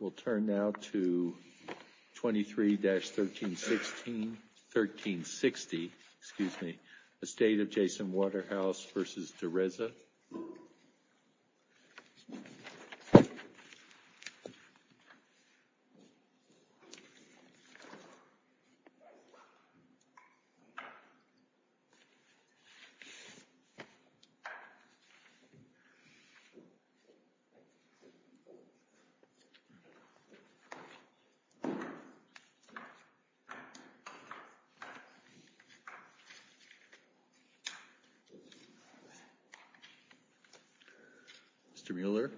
We'll turn now to 23-1360, excuse me, the State of Jason Waterhouse v. Direzza. Mr. Mueller.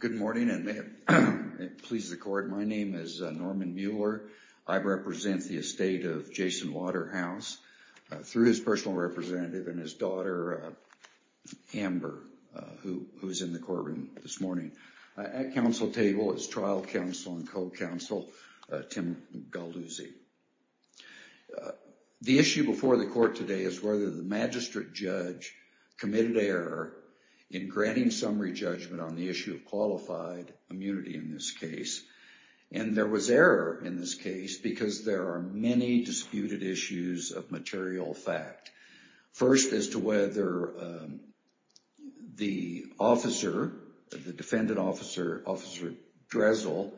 Good morning, and may it please the court, my name is Norman Mueller. I represent the estate of Jason Waterhouse through his personal representative and his daughter, Amber, who is in the courtroom this morning. At council table is trial counsel and co-counsel, Tim Galluzzi. The issue before the court today is whether the magistrate judge committed error in granting summary judgment on the issue of qualified immunity in this case. And there was error in this case because there are many disputed issues of material fact. First, as to whether the officer, the defendant officer, Officer Dressel,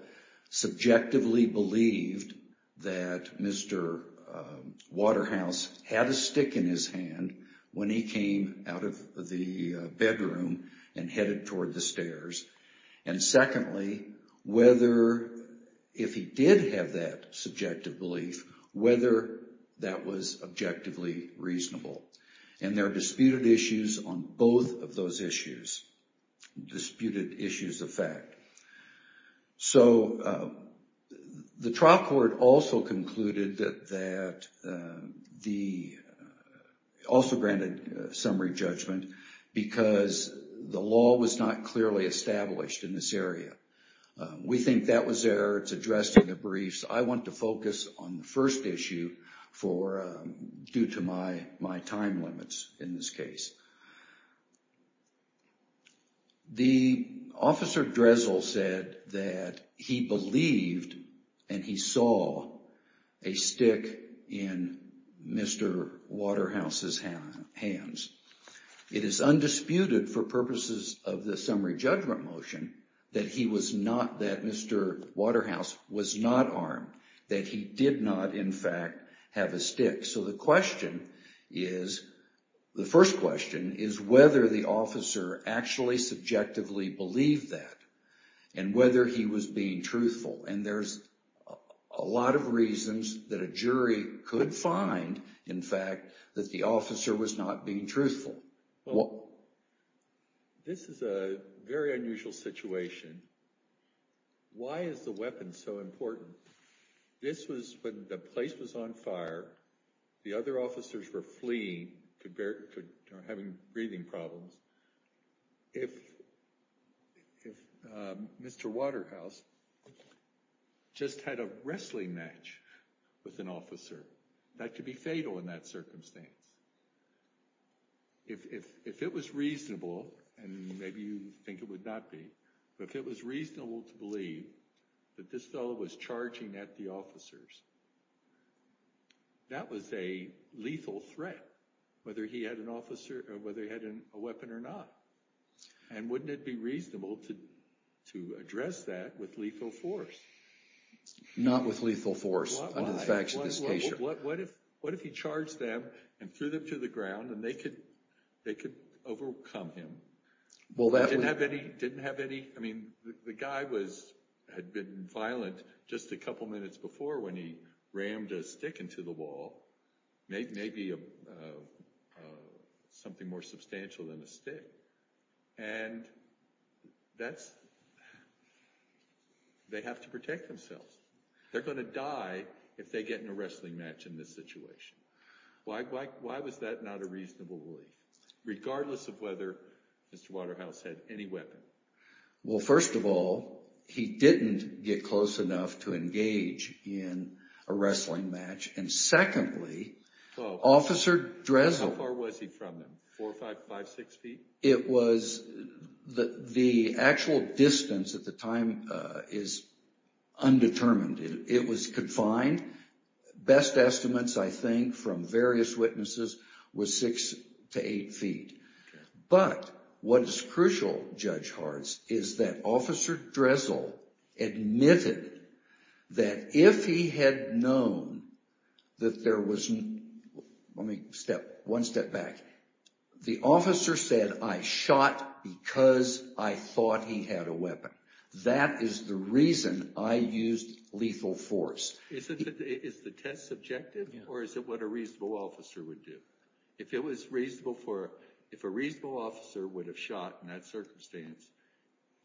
subjectively believed that Mr. Waterhouse had a stick in his hand when he came out of the bedroom and headed toward the stairs. And secondly, if he did have that subjective belief, whether that was objectively reasonable. And there are disputed issues on both of those issues, disputed issues of fact. So, the trial court also concluded that the, also granted summary judgment because the law was not clearly established in this area. We think that was error, it's addressed in the briefs. I want to focus on the first issue for, due to my time limits in this case. The Officer Dressel said that he believed and he saw a stick in Mr. Waterhouse's hands. It is undisputed for purposes of the summary judgment motion that he was not, that Mr. Waterhouse was not armed, that he did not, in fact, have a stick. So the question is, the first question is whether the officer actually subjectively believed that and whether he was being truthful. And there's a lot of reasons that a jury could find, in fact, that the officer was not being truthful. Well, this is a very unusual situation. Why is the weapon so important? This was when the place was on fire, the other officers were fleeing, could, having breathing problems. If Mr. Waterhouse just had a wrestling match with an officer, that could be fatal in that circumstance. If it was reasonable, and maybe you think it would not be, but if it was reasonable to believe that this fellow was charging at the officers, that was a lethal threat, whether he had an officer, or whether he had a weapon or not. And wouldn't it be reasonable to address that with lethal force? Not with lethal force, under the facts of this case. What if he charged them and threw them to the ground and they could overcome him? Well, that would- Didn't have any, I mean, the guy had been violent just a couple minutes before when he rammed a stick into the wall, maybe something more substantial than a stick. And that's, they have to protect themselves. They're gonna die if they get in a wrestling match in this situation. Why was that not a reasonable belief, regardless of whether Mr. Waterhouse had any weapon? Well, first of all, he didn't get close enough to engage in a wrestling match. And secondly, Officer Dressel- How far was he from them, four, five, five, six feet? It was, the actual distance at the time is undetermined. It was confined. Best estimates, I think, from various witnesses was six to eight feet. But what is crucial, Judge Hartz, is that Officer Dressel admitted that if he had known that there was, let me step one step back. The officer said, I shot because I thought he had a weapon. That is the reason I used lethal force. Is the test subjective, or is it what a reasonable officer would do? If it was reasonable for, if a reasonable officer would have shot in that circumstance,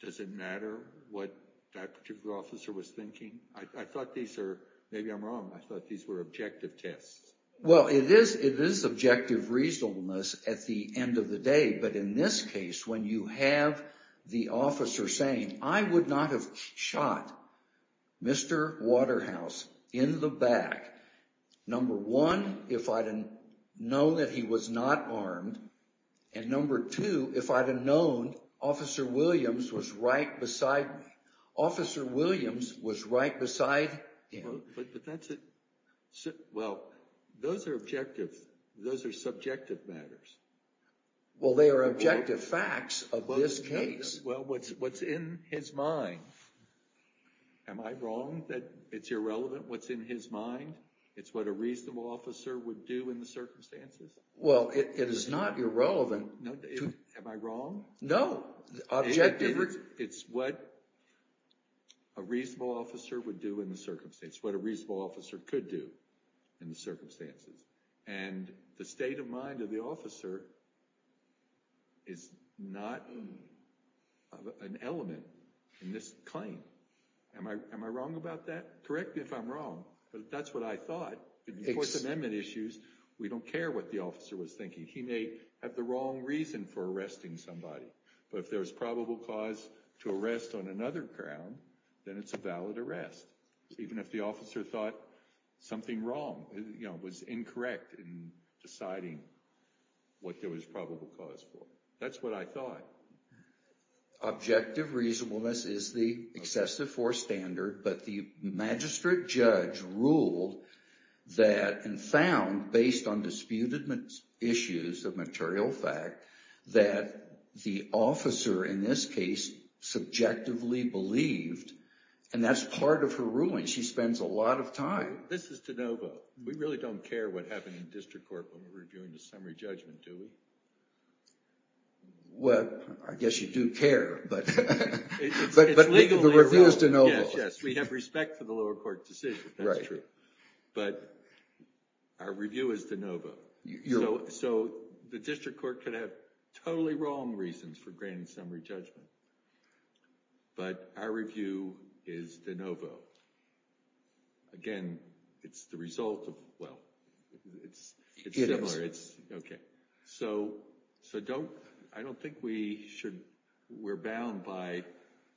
does it matter what that particular officer was thinking? I thought these are, maybe I'm wrong, I thought these were objective tests. Well, it is objective reasonableness at the end of the day, but in this case, when you have the officer saying, I would not have shot Mr. Waterhouse in the back, number one, if I'd have known that he was not armed, and number two, if I'd have known Officer Williams was right beside me. Officer Williams was right beside him. But that's a, well, those are objective, those are subjective matters. Well, they are objective facts of this case. Well, what's in his mind, am I wrong that it's irrelevant what's in his mind? It's what a reasonable officer would do in the circumstances? Well, it is not irrelevant. Am I wrong? No, objective. It's what a reasonable officer would do in the circumstance, what a reasonable officer could do in the circumstances. And the state of mind of the officer is not an element in this claim. Am I wrong about that? Correct me if I'm wrong, but that's what I thought. In the First Amendment issues, we don't care what the officer was thinking. He may have the wrong reason for arresting somebody, but if there's probable cause to arrest on another ground, then it's a valid arrest. Even if the officer thought something wrong, was incorrect in deciding what there was probable cause for. That's what I thought. Objective reasonableness is the excessive force standard, but the magistrate judge ruled that and found, based on disputed issues of material fact, that the officer in this case subjectively believed, and that's part of her ruling. She spends a lot of time. This is de novo. We really don't care what happened in district court when we're reviewing the summary judgment, do we? Well, I guess you do care, but. But the review is de novo. Yes, yes, we have respect for the lower court decision. That's true. But our review is de novo. So the district court could have totally wrong reasons for granting summary judgment, but our review is de novo. Again, it's the result of, well, it's similar. So I don't think we should, we're bound by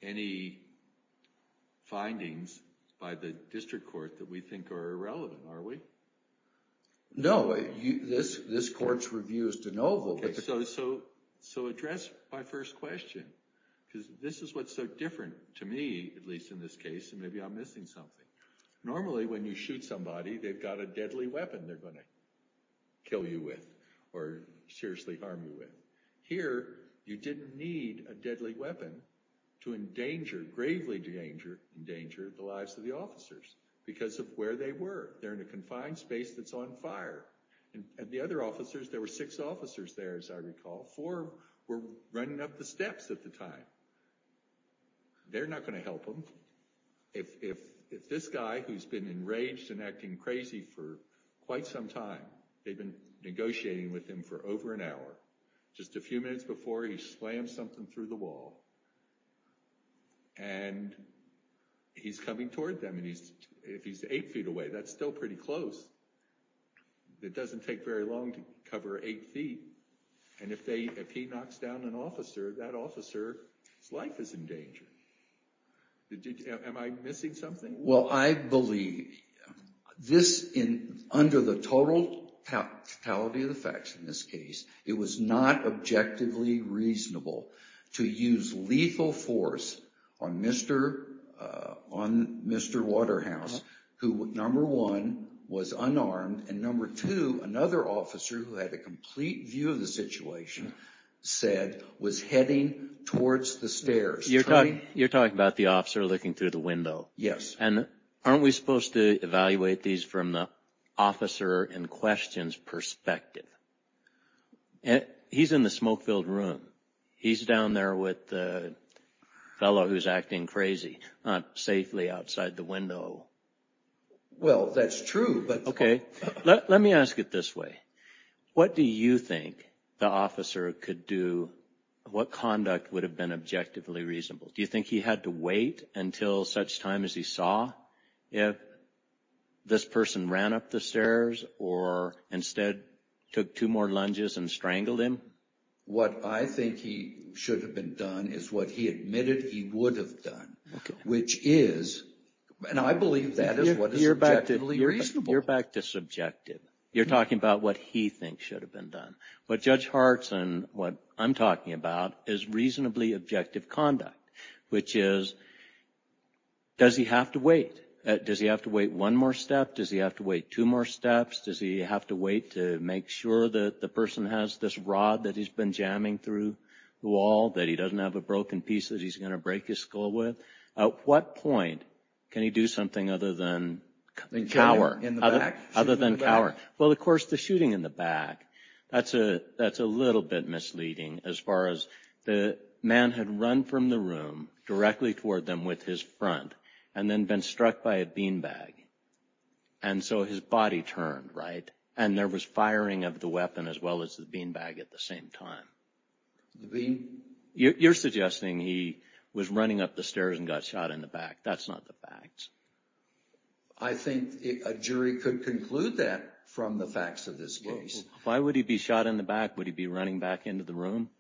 any findings by the district court that we think are irrelevant, are we? No, this court's review is de novo. So address my first question, because this is what's so different to me, at least in this case, and maybe I'm missing something. Normally, when you shoot somebody, they've got a deadly weapon they're gonna kill you with or seriously harm you with. Here, you didn't need a deadly weapon to endanger, gravely endanger, endanger the lives of the officers because of where they were. They're in a confined space that's on fire. And the other officers, there were six officers there, as I recall. Four were running up the steps at the time. They're not gonna help him. If this guy, who's been enraged and acting crazy for quite some time, they've been negotiating with him for over an hour, just a few minutes before, he slams something through the wall and he's coming toward them. And if he's eight feet away, that's still pretty close. It doesn't take very long to cover eight feet. And if he knocks down an officer, that officer's life is in danger. Am I missing something? Well, I believe this, under the totality of the facts in this case, it was not objectively reasonable to use lethal force on Mr. Waterhouse, who, number one, was unarmed, and number two, another officer who had a complete view of the situation, said, was heading towards the stairs. You're talking about the officer looking through the window. Yes. And aren't we supposed to evaluate these from the officer in question's perspective? He's in the smoke-filled room. He's down there with the fellow who's acting crazy, not safely outside the window. Well, that's true, but... Okay, let me ask it this way. What do you think the officer could do, what conduct would have been objectively reasonable? Do you think he had to wait until such time as he saw if this person ran up the stairs or instead took two more lunges and strangled him? What I think he should have been done is what he admitted he would have done, which is, and I believe that is what is objectively reasonable. You're back to subjective. You're talking about what he thinks should have been done. What Judge Hart's and what I'm talking about is reasonably objective conduct, which is, does he have to wait? Does he have to wait one more step? Does he have to wait two more steps? Does he have to wait to make sure that the person has this rod that he's been jamming through the wall, that he doesn't have a broken piece that he's gonna break his skull with? At what point can he do something other than cower, in the back, shooting in the back? Well, of course, the shooting in the back, that's a little bit misleading as far as the man had run from the room directly toward them with his front and then been struck by a beanbag. And so his body turned, right? And there was firing of the weapon as well as the beanbag at the same time. You're suggesting he was running up the stairs and got shot in the back. That's not the facts. I think a jury could conclude that from the facts of this case. Why would he be shot in the back? Would he be running back into the room?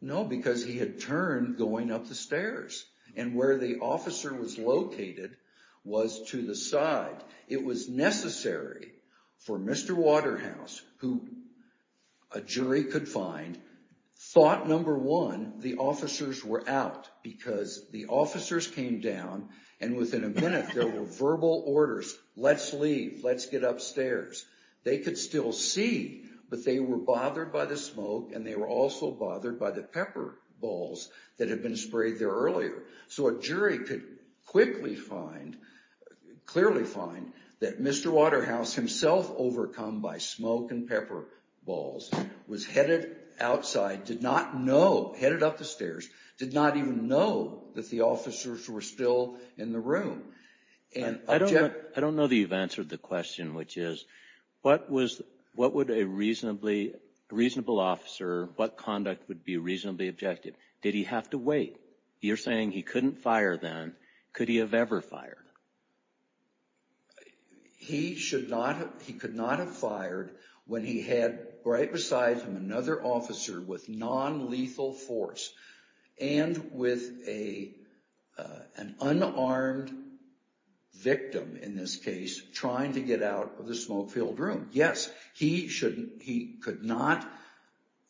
No, because he had turned going up the stairs and where the officer was located was to the side. It was necessary for Mr. Waterhouse, who a jury could find, thought, number one, the officers were out because the officers came down and within a minute there were verbal orders. Let's leave, let's get upstairs. They could still see, but they were bothered by the smoke and they were also bothered by the pepper balls that had been sprayed there earlier. So a jury could quickly find, clearly find that Mr. Waterhouse himself, overcome by smoke and pepper balls, was headed outside, did not know, headed up the stairs, did not even know that the officers were still in the room. I don't know that you've answered the question, which is, what would a reasonable officer, what conduct would be reasonably objective? Did he have to wait? You're saying he couldn't fire then. Could he have ever fired? He could not have fired when he had right beside him another officer with non-lethal force and with an unarmed victim, in this case, trying to get out of the smoke-filled room. Yes, he could not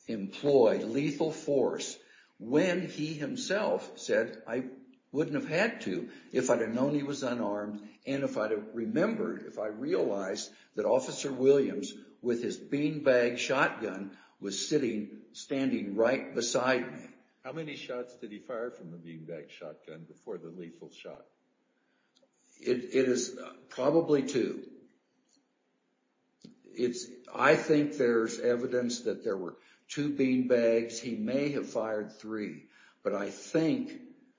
employ lethal force when he himself said, I wouldn't have had to if I'd have known he was unarmed and if I'd have remembered, if I realized that Officer Williams with his beanbag shotgun was sitting, standing right beside me. How many shots did he fire from the beanbag shotgun before the lethal shot? It is probably two. I think there's evidence that there were two beanbags. He may have fired three, but I think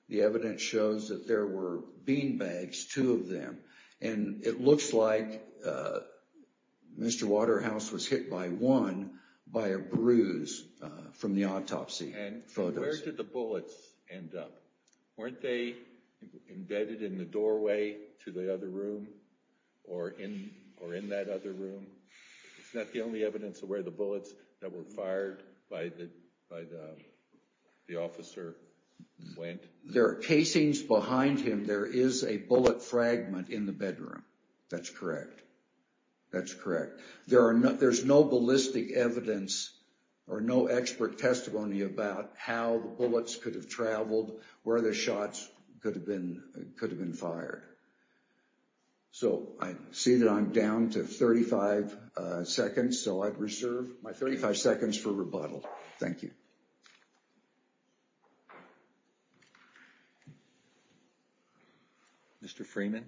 the evidence shows that there were beanbags, two of them, and it looks like Mr. Waterhouse was hit by one by a bruise from the autopsy photos. And where did the bullets end up? Weren't they embedded in the doorway to the other room or in that other room? Is that the only evidence of where the bullets that were fired by the officer went? There are casings behind him. There is a bullet fragment in the bedroom. That's correct. That's correct. There's no ballistic evidence or no expert testimony about how the bullets could have traveled, where the shots could have been fired. So I see that I'm down to 35 seconds, so I'd reserve my 35 seconds for rebuttal. Thank you. Mr. Freeman.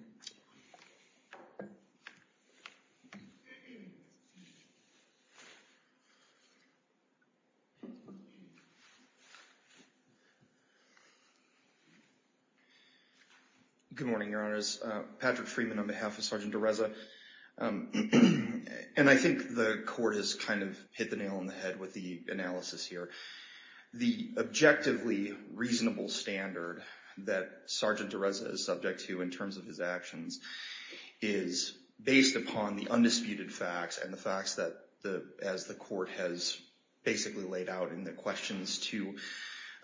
Good morning, Your Honors. Patrick Freeman on behalf of Sergeant DeResa. And I think the court has kind of hit the nail on the head with the analysis here. The objectively reasonable standard that Sergeant DeResa is subject to in terms of his actions is based upon the undisputed facts and the facts that as the court has basically laid out in the questions to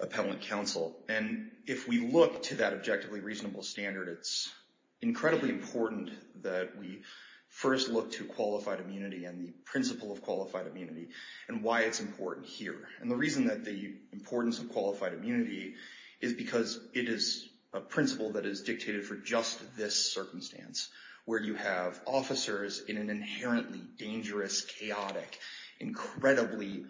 appellant counsel. And if we look to that objectively reasonable standard, it's incredibly important that we first look to qualified immunity and the principle of qualified immunity and why it's important here. And the reason that the importance of qualified immunity is because it is a principle that is dictated for just this circumstance, where you have officers in an inherently dangerous, chaotic, incredibly,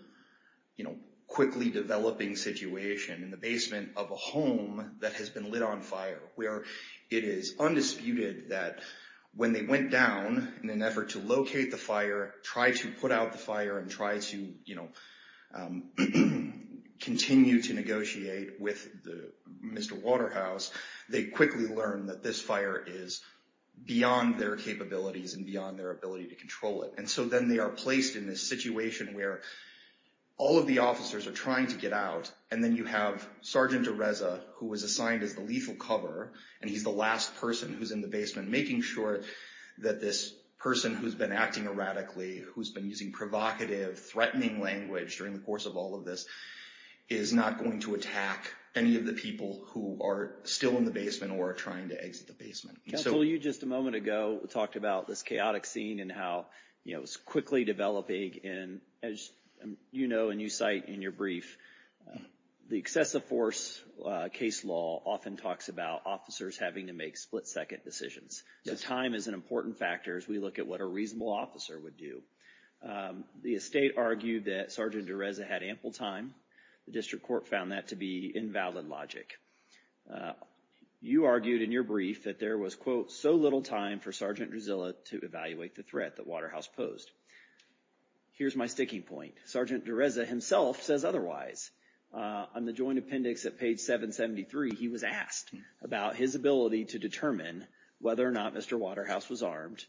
you know, quickly developing situation in the basement of a home that has been lit on fire, where it is undisputed that when they went down in an effort to locate the fire, try to put out the fire and try to, you know, continue to negotiate with the Mr. Waterhouse, they quickly learn that this fire is beyond their capabilities and beyond their ability to control it. And so then they are placed in this situation where all of the officers are trying to get out and then you have Sergeant DeResa who was assigned as the lethal cover and he's the last person who's in the basement, making sure that this person who's been acting erratically, who's been using provocative, threatening language during the course of all of this is not going to attack any of the people who are still in the basement or are trying to exit the basement. And so- Counsel, you just a moment ago talked about this chaotic scene and how, you know, it was quickly developing and as you know, and you cite in your brief, the excessive force case law often talks about officers having to make split second decisions. So time is an important factor as we look at what a reasonable officer would do. The estate argued that Sergeant DeResa had ample time. The district court found that to be invalid logic. You argued in your brief that there was, quote, so little time for Sergeant Drusilla to evaluate the threat that Waterhouse posed. Here's my sticking point. Sergeant DeResa himself says otherwise. On the joint appendix at page 773, he was asked about his ability to determine whether or not Mr. Waterhouse was armed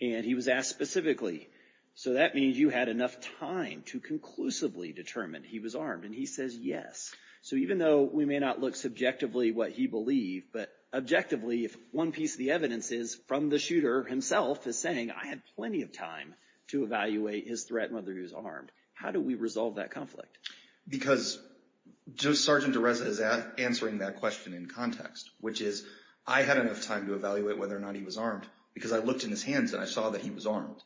and he was asked specifically. So that means you had enough time to conclusively determine he was armed and he says yes. So even though we may not look subjectively what he believed, but objectively, if one piece of the evidence is from the shooter himself is saying I had plenty of time to evaluate his threat and whether he was armed, how do we resolve that conflict? Because just Sergeant DeResa is answering that question in context, which is I had enough time to evaluate whether or not he was armed because I looked in his hands and I saw that he was armed.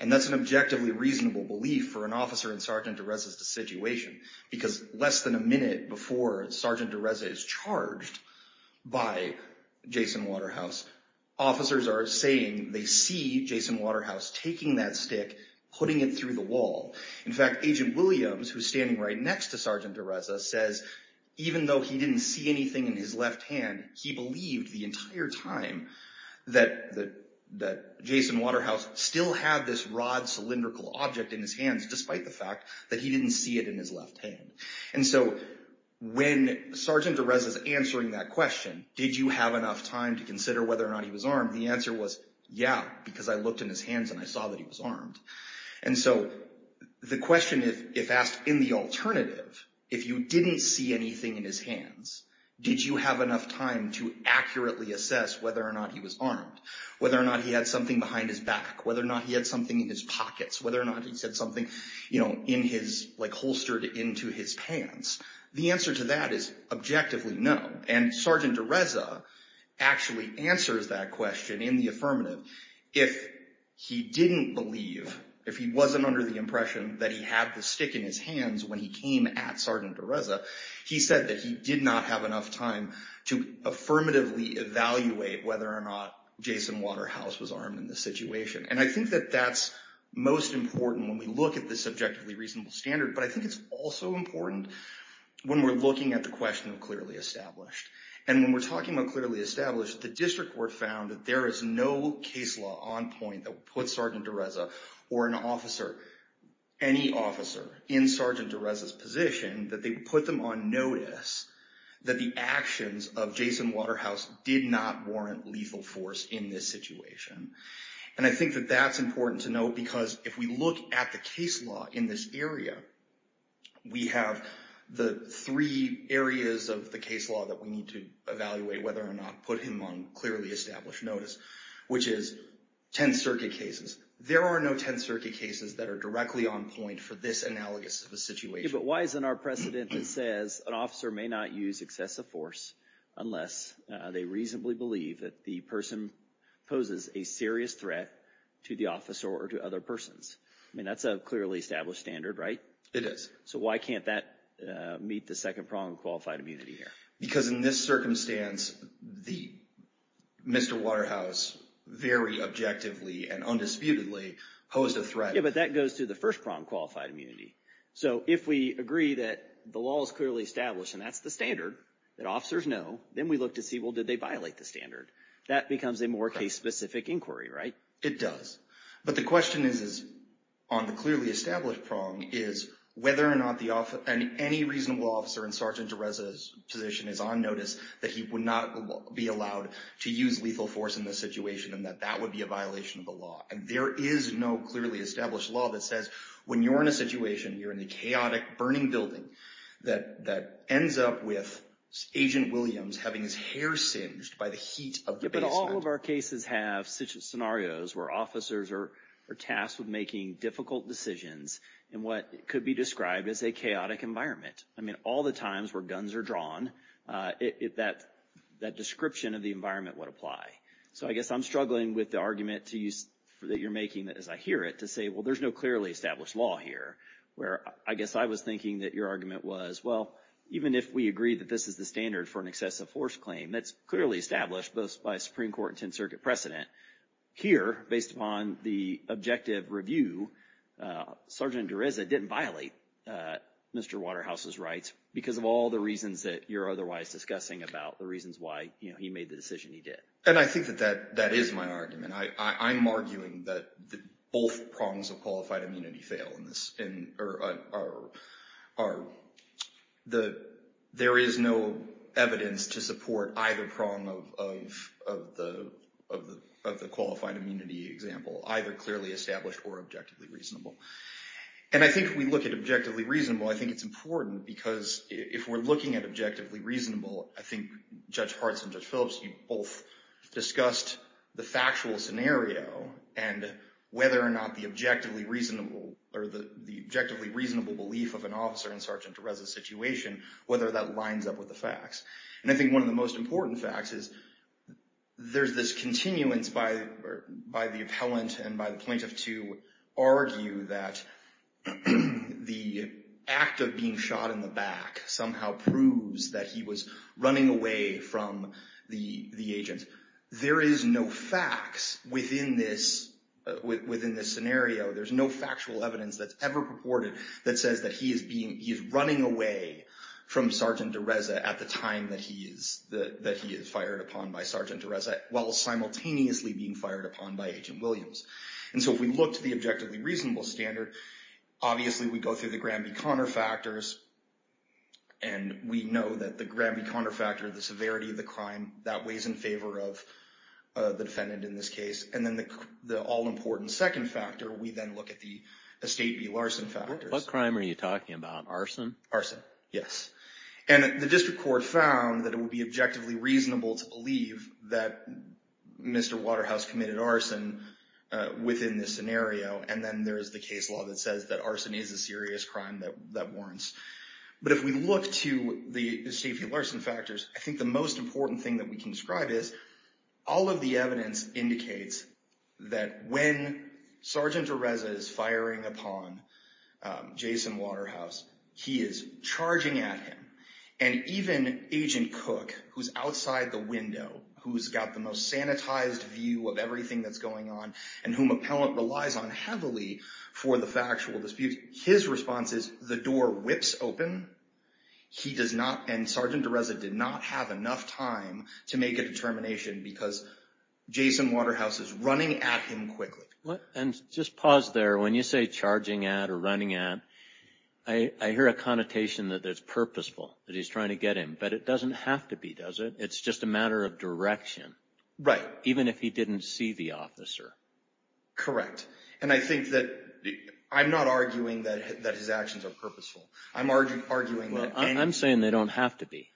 And that's an objectively reasonable belief for an officer in Sergeant DeResa's situation because less than a minute before Sergeant DeResa is charged by Jason Waterhouse, officers are saying they see Jason Waterhouse taking that stick, putting it through the wall. In fact, Agent Williams, who's standing right next to Sergeant DeResa says even though he didn't see anything in his left hand, he believed the entire time that Jason Waterhouse still had this rod, cylindrical object in his hands despite the fact that he didn't see it in his left hand. And so when Sergeant DeResa's answering that question, did you have enough time to consider whether or not he was armed? The answer was, yeah, because I looked in his hands and I saw that he was armed. And so the question if asked in the alternative, if you didn't see anything in his hands, did you have enough time to accurately assess whether or not he was armed, whether or not he had something behind his back, whether or not he had something in his pockets, whether or not he said something in his, like holstered into his pants. The answer to that is objectively no. And Sergeant DeResa actually answers that question in the affirmative if he didn't believe, if he wasn't under the impression that he had the stick in his hands when he came at Sergeant DeResa, he said that he did not have enough time to affirmatively evaluate whether or not Jason Waterhouse was armed in this situation. And I think that that's most important when we look at the subjectively reasonable standard, but I think it's also important when we're looking at the question of clearly established. And when we're talking about clearly established, the district court found that there is no case law on point that would put Sergeant DeResa or an officer, any officer in Sergeant DeResa's position that they would put them on notice that the actions of Jason Waterhouse did not warrant lethal force in this situation. That that's important to know because if we look at the case law in this area, we have the three areas of the case law that we need to evaluate whether or not put him on clearly established notice, which is 10 circuit cases. There are no 10 circuit cases that are directly on point for this analogous of a situation. But why isn't our precedent that says an officer may not use excessive force unless they reasonably believe that the person poses a serious threat to the officer or to other persons? I mean, that's a clearly established standard, right? It is. So why can't that meet the second prong of qualified immunity here? Because in this circumstance, the Mr. Waterhouse very objectively and undisputedly posed a threat. Yeah, but that goes to the first prong, qualified immunity. So if we agree that the law is clearly established and that's the standard that officers know, then we look to see, well, did they violate the standard? That becomes a more case-specific inquiry, right? It does. But the question is on the clearly established prong is whether or not any reasonable officer in Sergeant DeRessa's position is on notice that he would not be allowed to use lethal force in this situation and that that would be a violation of the law. And there is no clearly established law that says when you're in a situation, you're in a chaotic burning building that ends up with Agent Williams having his hair singed by the heat of the basement. Yeah, but all of our cases have such scenarios where officers are tasked with making difficult decisions in what could be described as a chaotic environment. I mean, all the times where guns are drawn, that description of the environment would apply. So I guess I'm struggling with the argument that you're making as I hear it to say, well, there's no clearly established law here, where I guess I was thinking that your argument was, well, even if we agree that this is the standard for an excessive force claim, that's clearly established both by Supreme Court and 10th Circuit precedent. Here, based upon the objective review, Sergeant DeRessa didn't violate Mr. Waterhouse's rights because of all the reasons that you're otherwise discussing about the reasons why he made the decision he did. And I think that that is my argument. I'm arguing that both prongs of qualified immunity fail or there is no evidence to support either prong of the qualified immunity example, either clearly established or objectively reasonable. And I think if we look at objectively reasonable, I think it's important because if we're looking at objectively reasonable, I think Judge Hartz and Judge Phillips, you both discussed the factual scenario and whether or not the objectively reasonable or the objectively reasonable belief of an officer in Sergeant DeRessa's situation, whether that lines up with the facts. And I think one of the most important facts is there's this continuance by the appellant and by the plaintiff to argue that the act of being shot in the back somehow proves that he was running away from the agent. There is no facts within this scenario. There's no factual evidence that's ever purported that says that he is running away from Sergeant DeRessa at the time that he is fired upon by Sergeant DeRessa while simultaneously being fired upon by Agent Williams. And so if we look to the objectively reasonable standard, obviously we go through the Granby-Conner factors and we know that the Granby-Conner factor, the severity of the crime, that weighs in favor of the defendant in this case. And then the all-important second factor, we then look at the estate v. Larson factors. What crime are you talking about, arson? Arson, yes. And the district court found that it would be objectively reasonable to believe that Mr. Waterhouse committed arson within this scenario. And then there's the case law that says that arson is a serious crime that warrants. But if we look to the estate v. Larson factors, I think the most important thing that we can describe is all of the evidence indicates that when Sergeant DeRessa is firing upon Jason Waterhouse, he is charging at him. And even Agent Cook, who's outside the window, who's got the most sanitized view of everything that's going on and whom appellant relies on heavily for the factual dispute, his response is the door whips open. He does not, and Sergeant DeRessa did not have enough time to make a determination because Jason Waterhouse is running at him quickly. And just pause there. When you say charging at or running at, I hear a connotation that that's purposeful, that he's trying to get him, but it doesn't have to be, does it? It's just a matter of direction. Right. Even if he didn't see the officer. Correct. And I think that, I'm not arguing that his actions are purposeful. I'm arguing that- Well, I'm saying they don't have to be.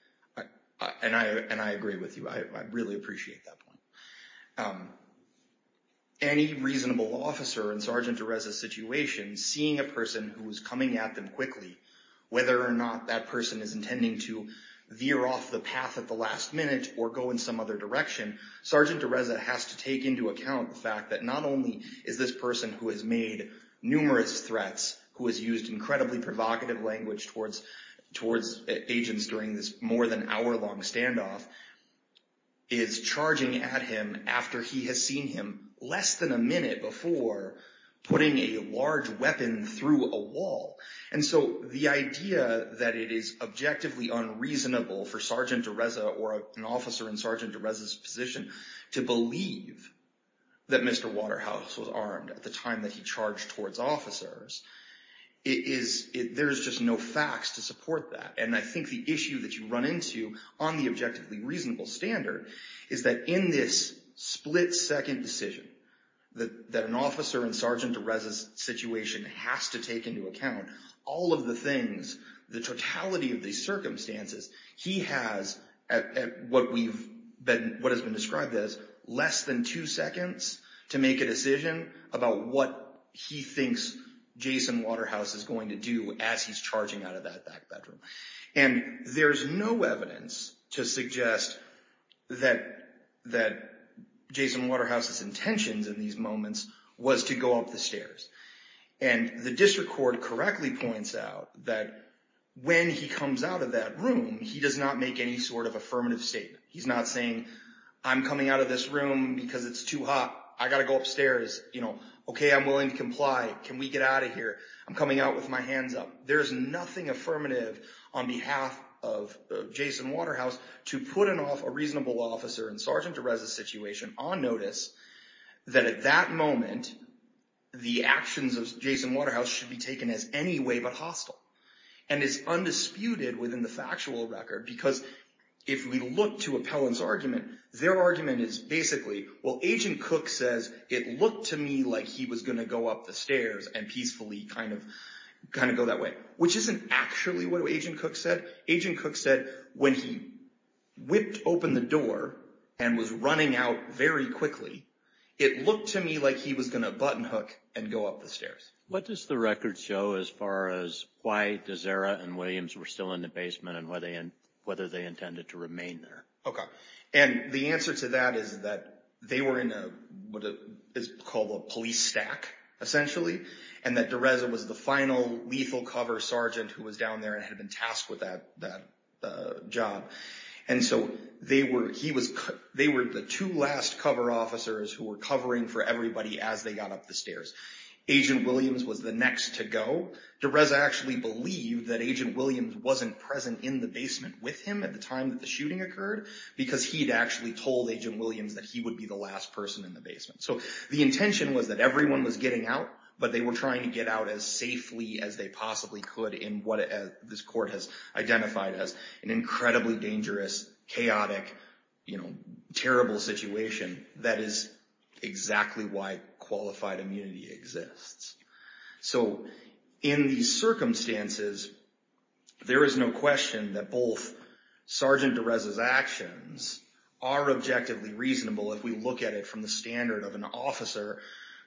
And I agree with you. I really appreciate that point. Any reasonable officer in Sergeant DeRessa's situation, seeing a person who's coming at them quickly, whether or not that person is intending to veer off the path at the last minute or go in some other direction, Sergeant DeRessa has to take into account the fact that not only is this person who has made numerous threats, who has used incredibly provocative language towards agents during this more than hour-long standoff, is charging at him after he has seen him less than a minute before putting a large weapon through a wall. And so the idea that it is objectively unreasonable for Sergeant DeRessa or an officer in Sergeant DeRessa's position to believe that Mr. Waterhouse was armed at the time that he charged towards officers, there's just no facts to support that. And I think the issue that you run into on the objectively reasonable standard is that in this split-second decision that an officer in Sergeant DeRessa's situation has to take into account all of the things, the totality of the circumstances, he has, what has been described as, less than two seconds to make a decision about what he thinks Jason Waterhouse is going to do as he's charging out of that back bedroom. And there's no evidence to suggest that Jason Waterhouse's intentions in these moments was to go up the stairs. And the district court correctly points out that when he comes out of that room, he does not make any sort of affirmative statement. He's not saying, I'm coming out of this room because it's too hot. I gotta go upstairs. Okay, I'm willing to comply. Can we get out of here? I'm coming out with my hands up. There's nothing affirmative on behalf of Jason Waterhouse to put off a reasonable officer in Sergeant DeRessa's situation on notice that at that moment, the actions of Jason Waterhouse should be taken as any way but hostile and is undisputed within the factual record because if we look to Appellant's argument, their argument is basically, well, Agent Cook says, it looked to me like he was gonna go up the stairs and peacefully kind of go that way, which isn't actually what Agent Cook said. Agent Cook said when he whipped open the door and was running out very quickly, it looked to me like he was gonna button hook and go up the stairs. What does the record show as far as why DeZera and Williams were still in the basement and whether they intended to remain there? Okay, and the answer to that is that they were in what is called a police stack, essentially, and that DeRessa was the final lethal cover sergeant who was down there and had been tasked with that job. And so they were the two last cover officers who were covering for everybody as they got up the stairs. Agent Williams was the next to go. DeRessa actually believed that Agent Williams wasn't present in the basement with him at the time that the shooting occurred because he'd actually told Agent Williams that he would be the last person in the basement. So the intention was that everyone was getting out, but they were trying to get out as safely as they possibly could in what this court has identified as an incredibly dangerous, chaotic, terrible situation. That is exactly why qualified immunity exists. So in these circumstances, there is no question that both Sergeant DeRessa's actions are objectively reasonable if we look at it from the standard of an officer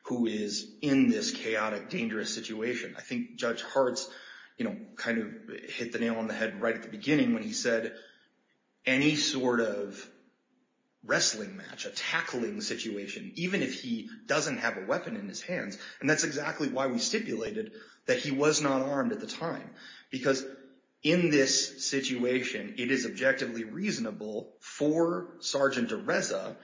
who is in this chaotic, dangerous situation. I think Judge Hart's, you know, kind of hit the nail on the head right at the beginning when he said any sort of wrestling match, a tackling situation, even if he doesn't have a weapon in his hands, and that's exactly why we stipulated that he was not armed at the time because in this situation, it is objectively reasonable for Sergeant DeRessa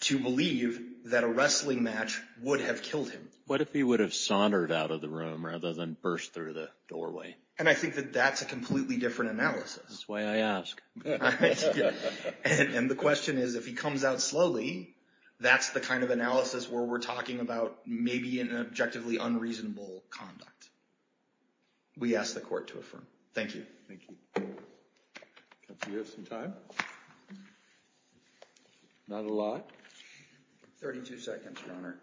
to believe that a wrestling match would have killed him. What if he would have saundered out of the room rather than burst through the doorway? And I think that that's a completely different analysis. That's why I ask. And the question is, if he comes out slowly, that's the kind of analysis where we're talking about maybe an objectively unreasonable conduct. We ask the court to affirm. Thank you. Thank you. Do we have some time? Not a lot. 32 seconds, Your Honor.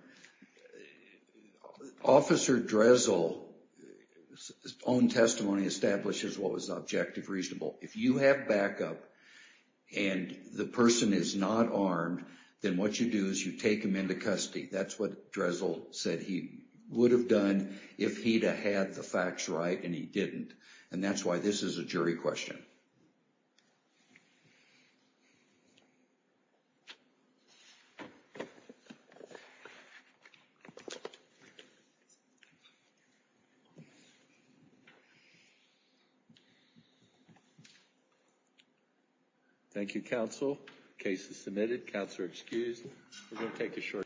Officer Dressel's own testimony establishes what was objective reasonable. If you have backup and the person is not armed, then what you do is you take him into custody. That's what Dressel said he would have done if he'd have had the facts right and he didn't. And that's why this is a jury question. Thank you, counsel. Case is submitted. Counselor excused. We're gonna take a short.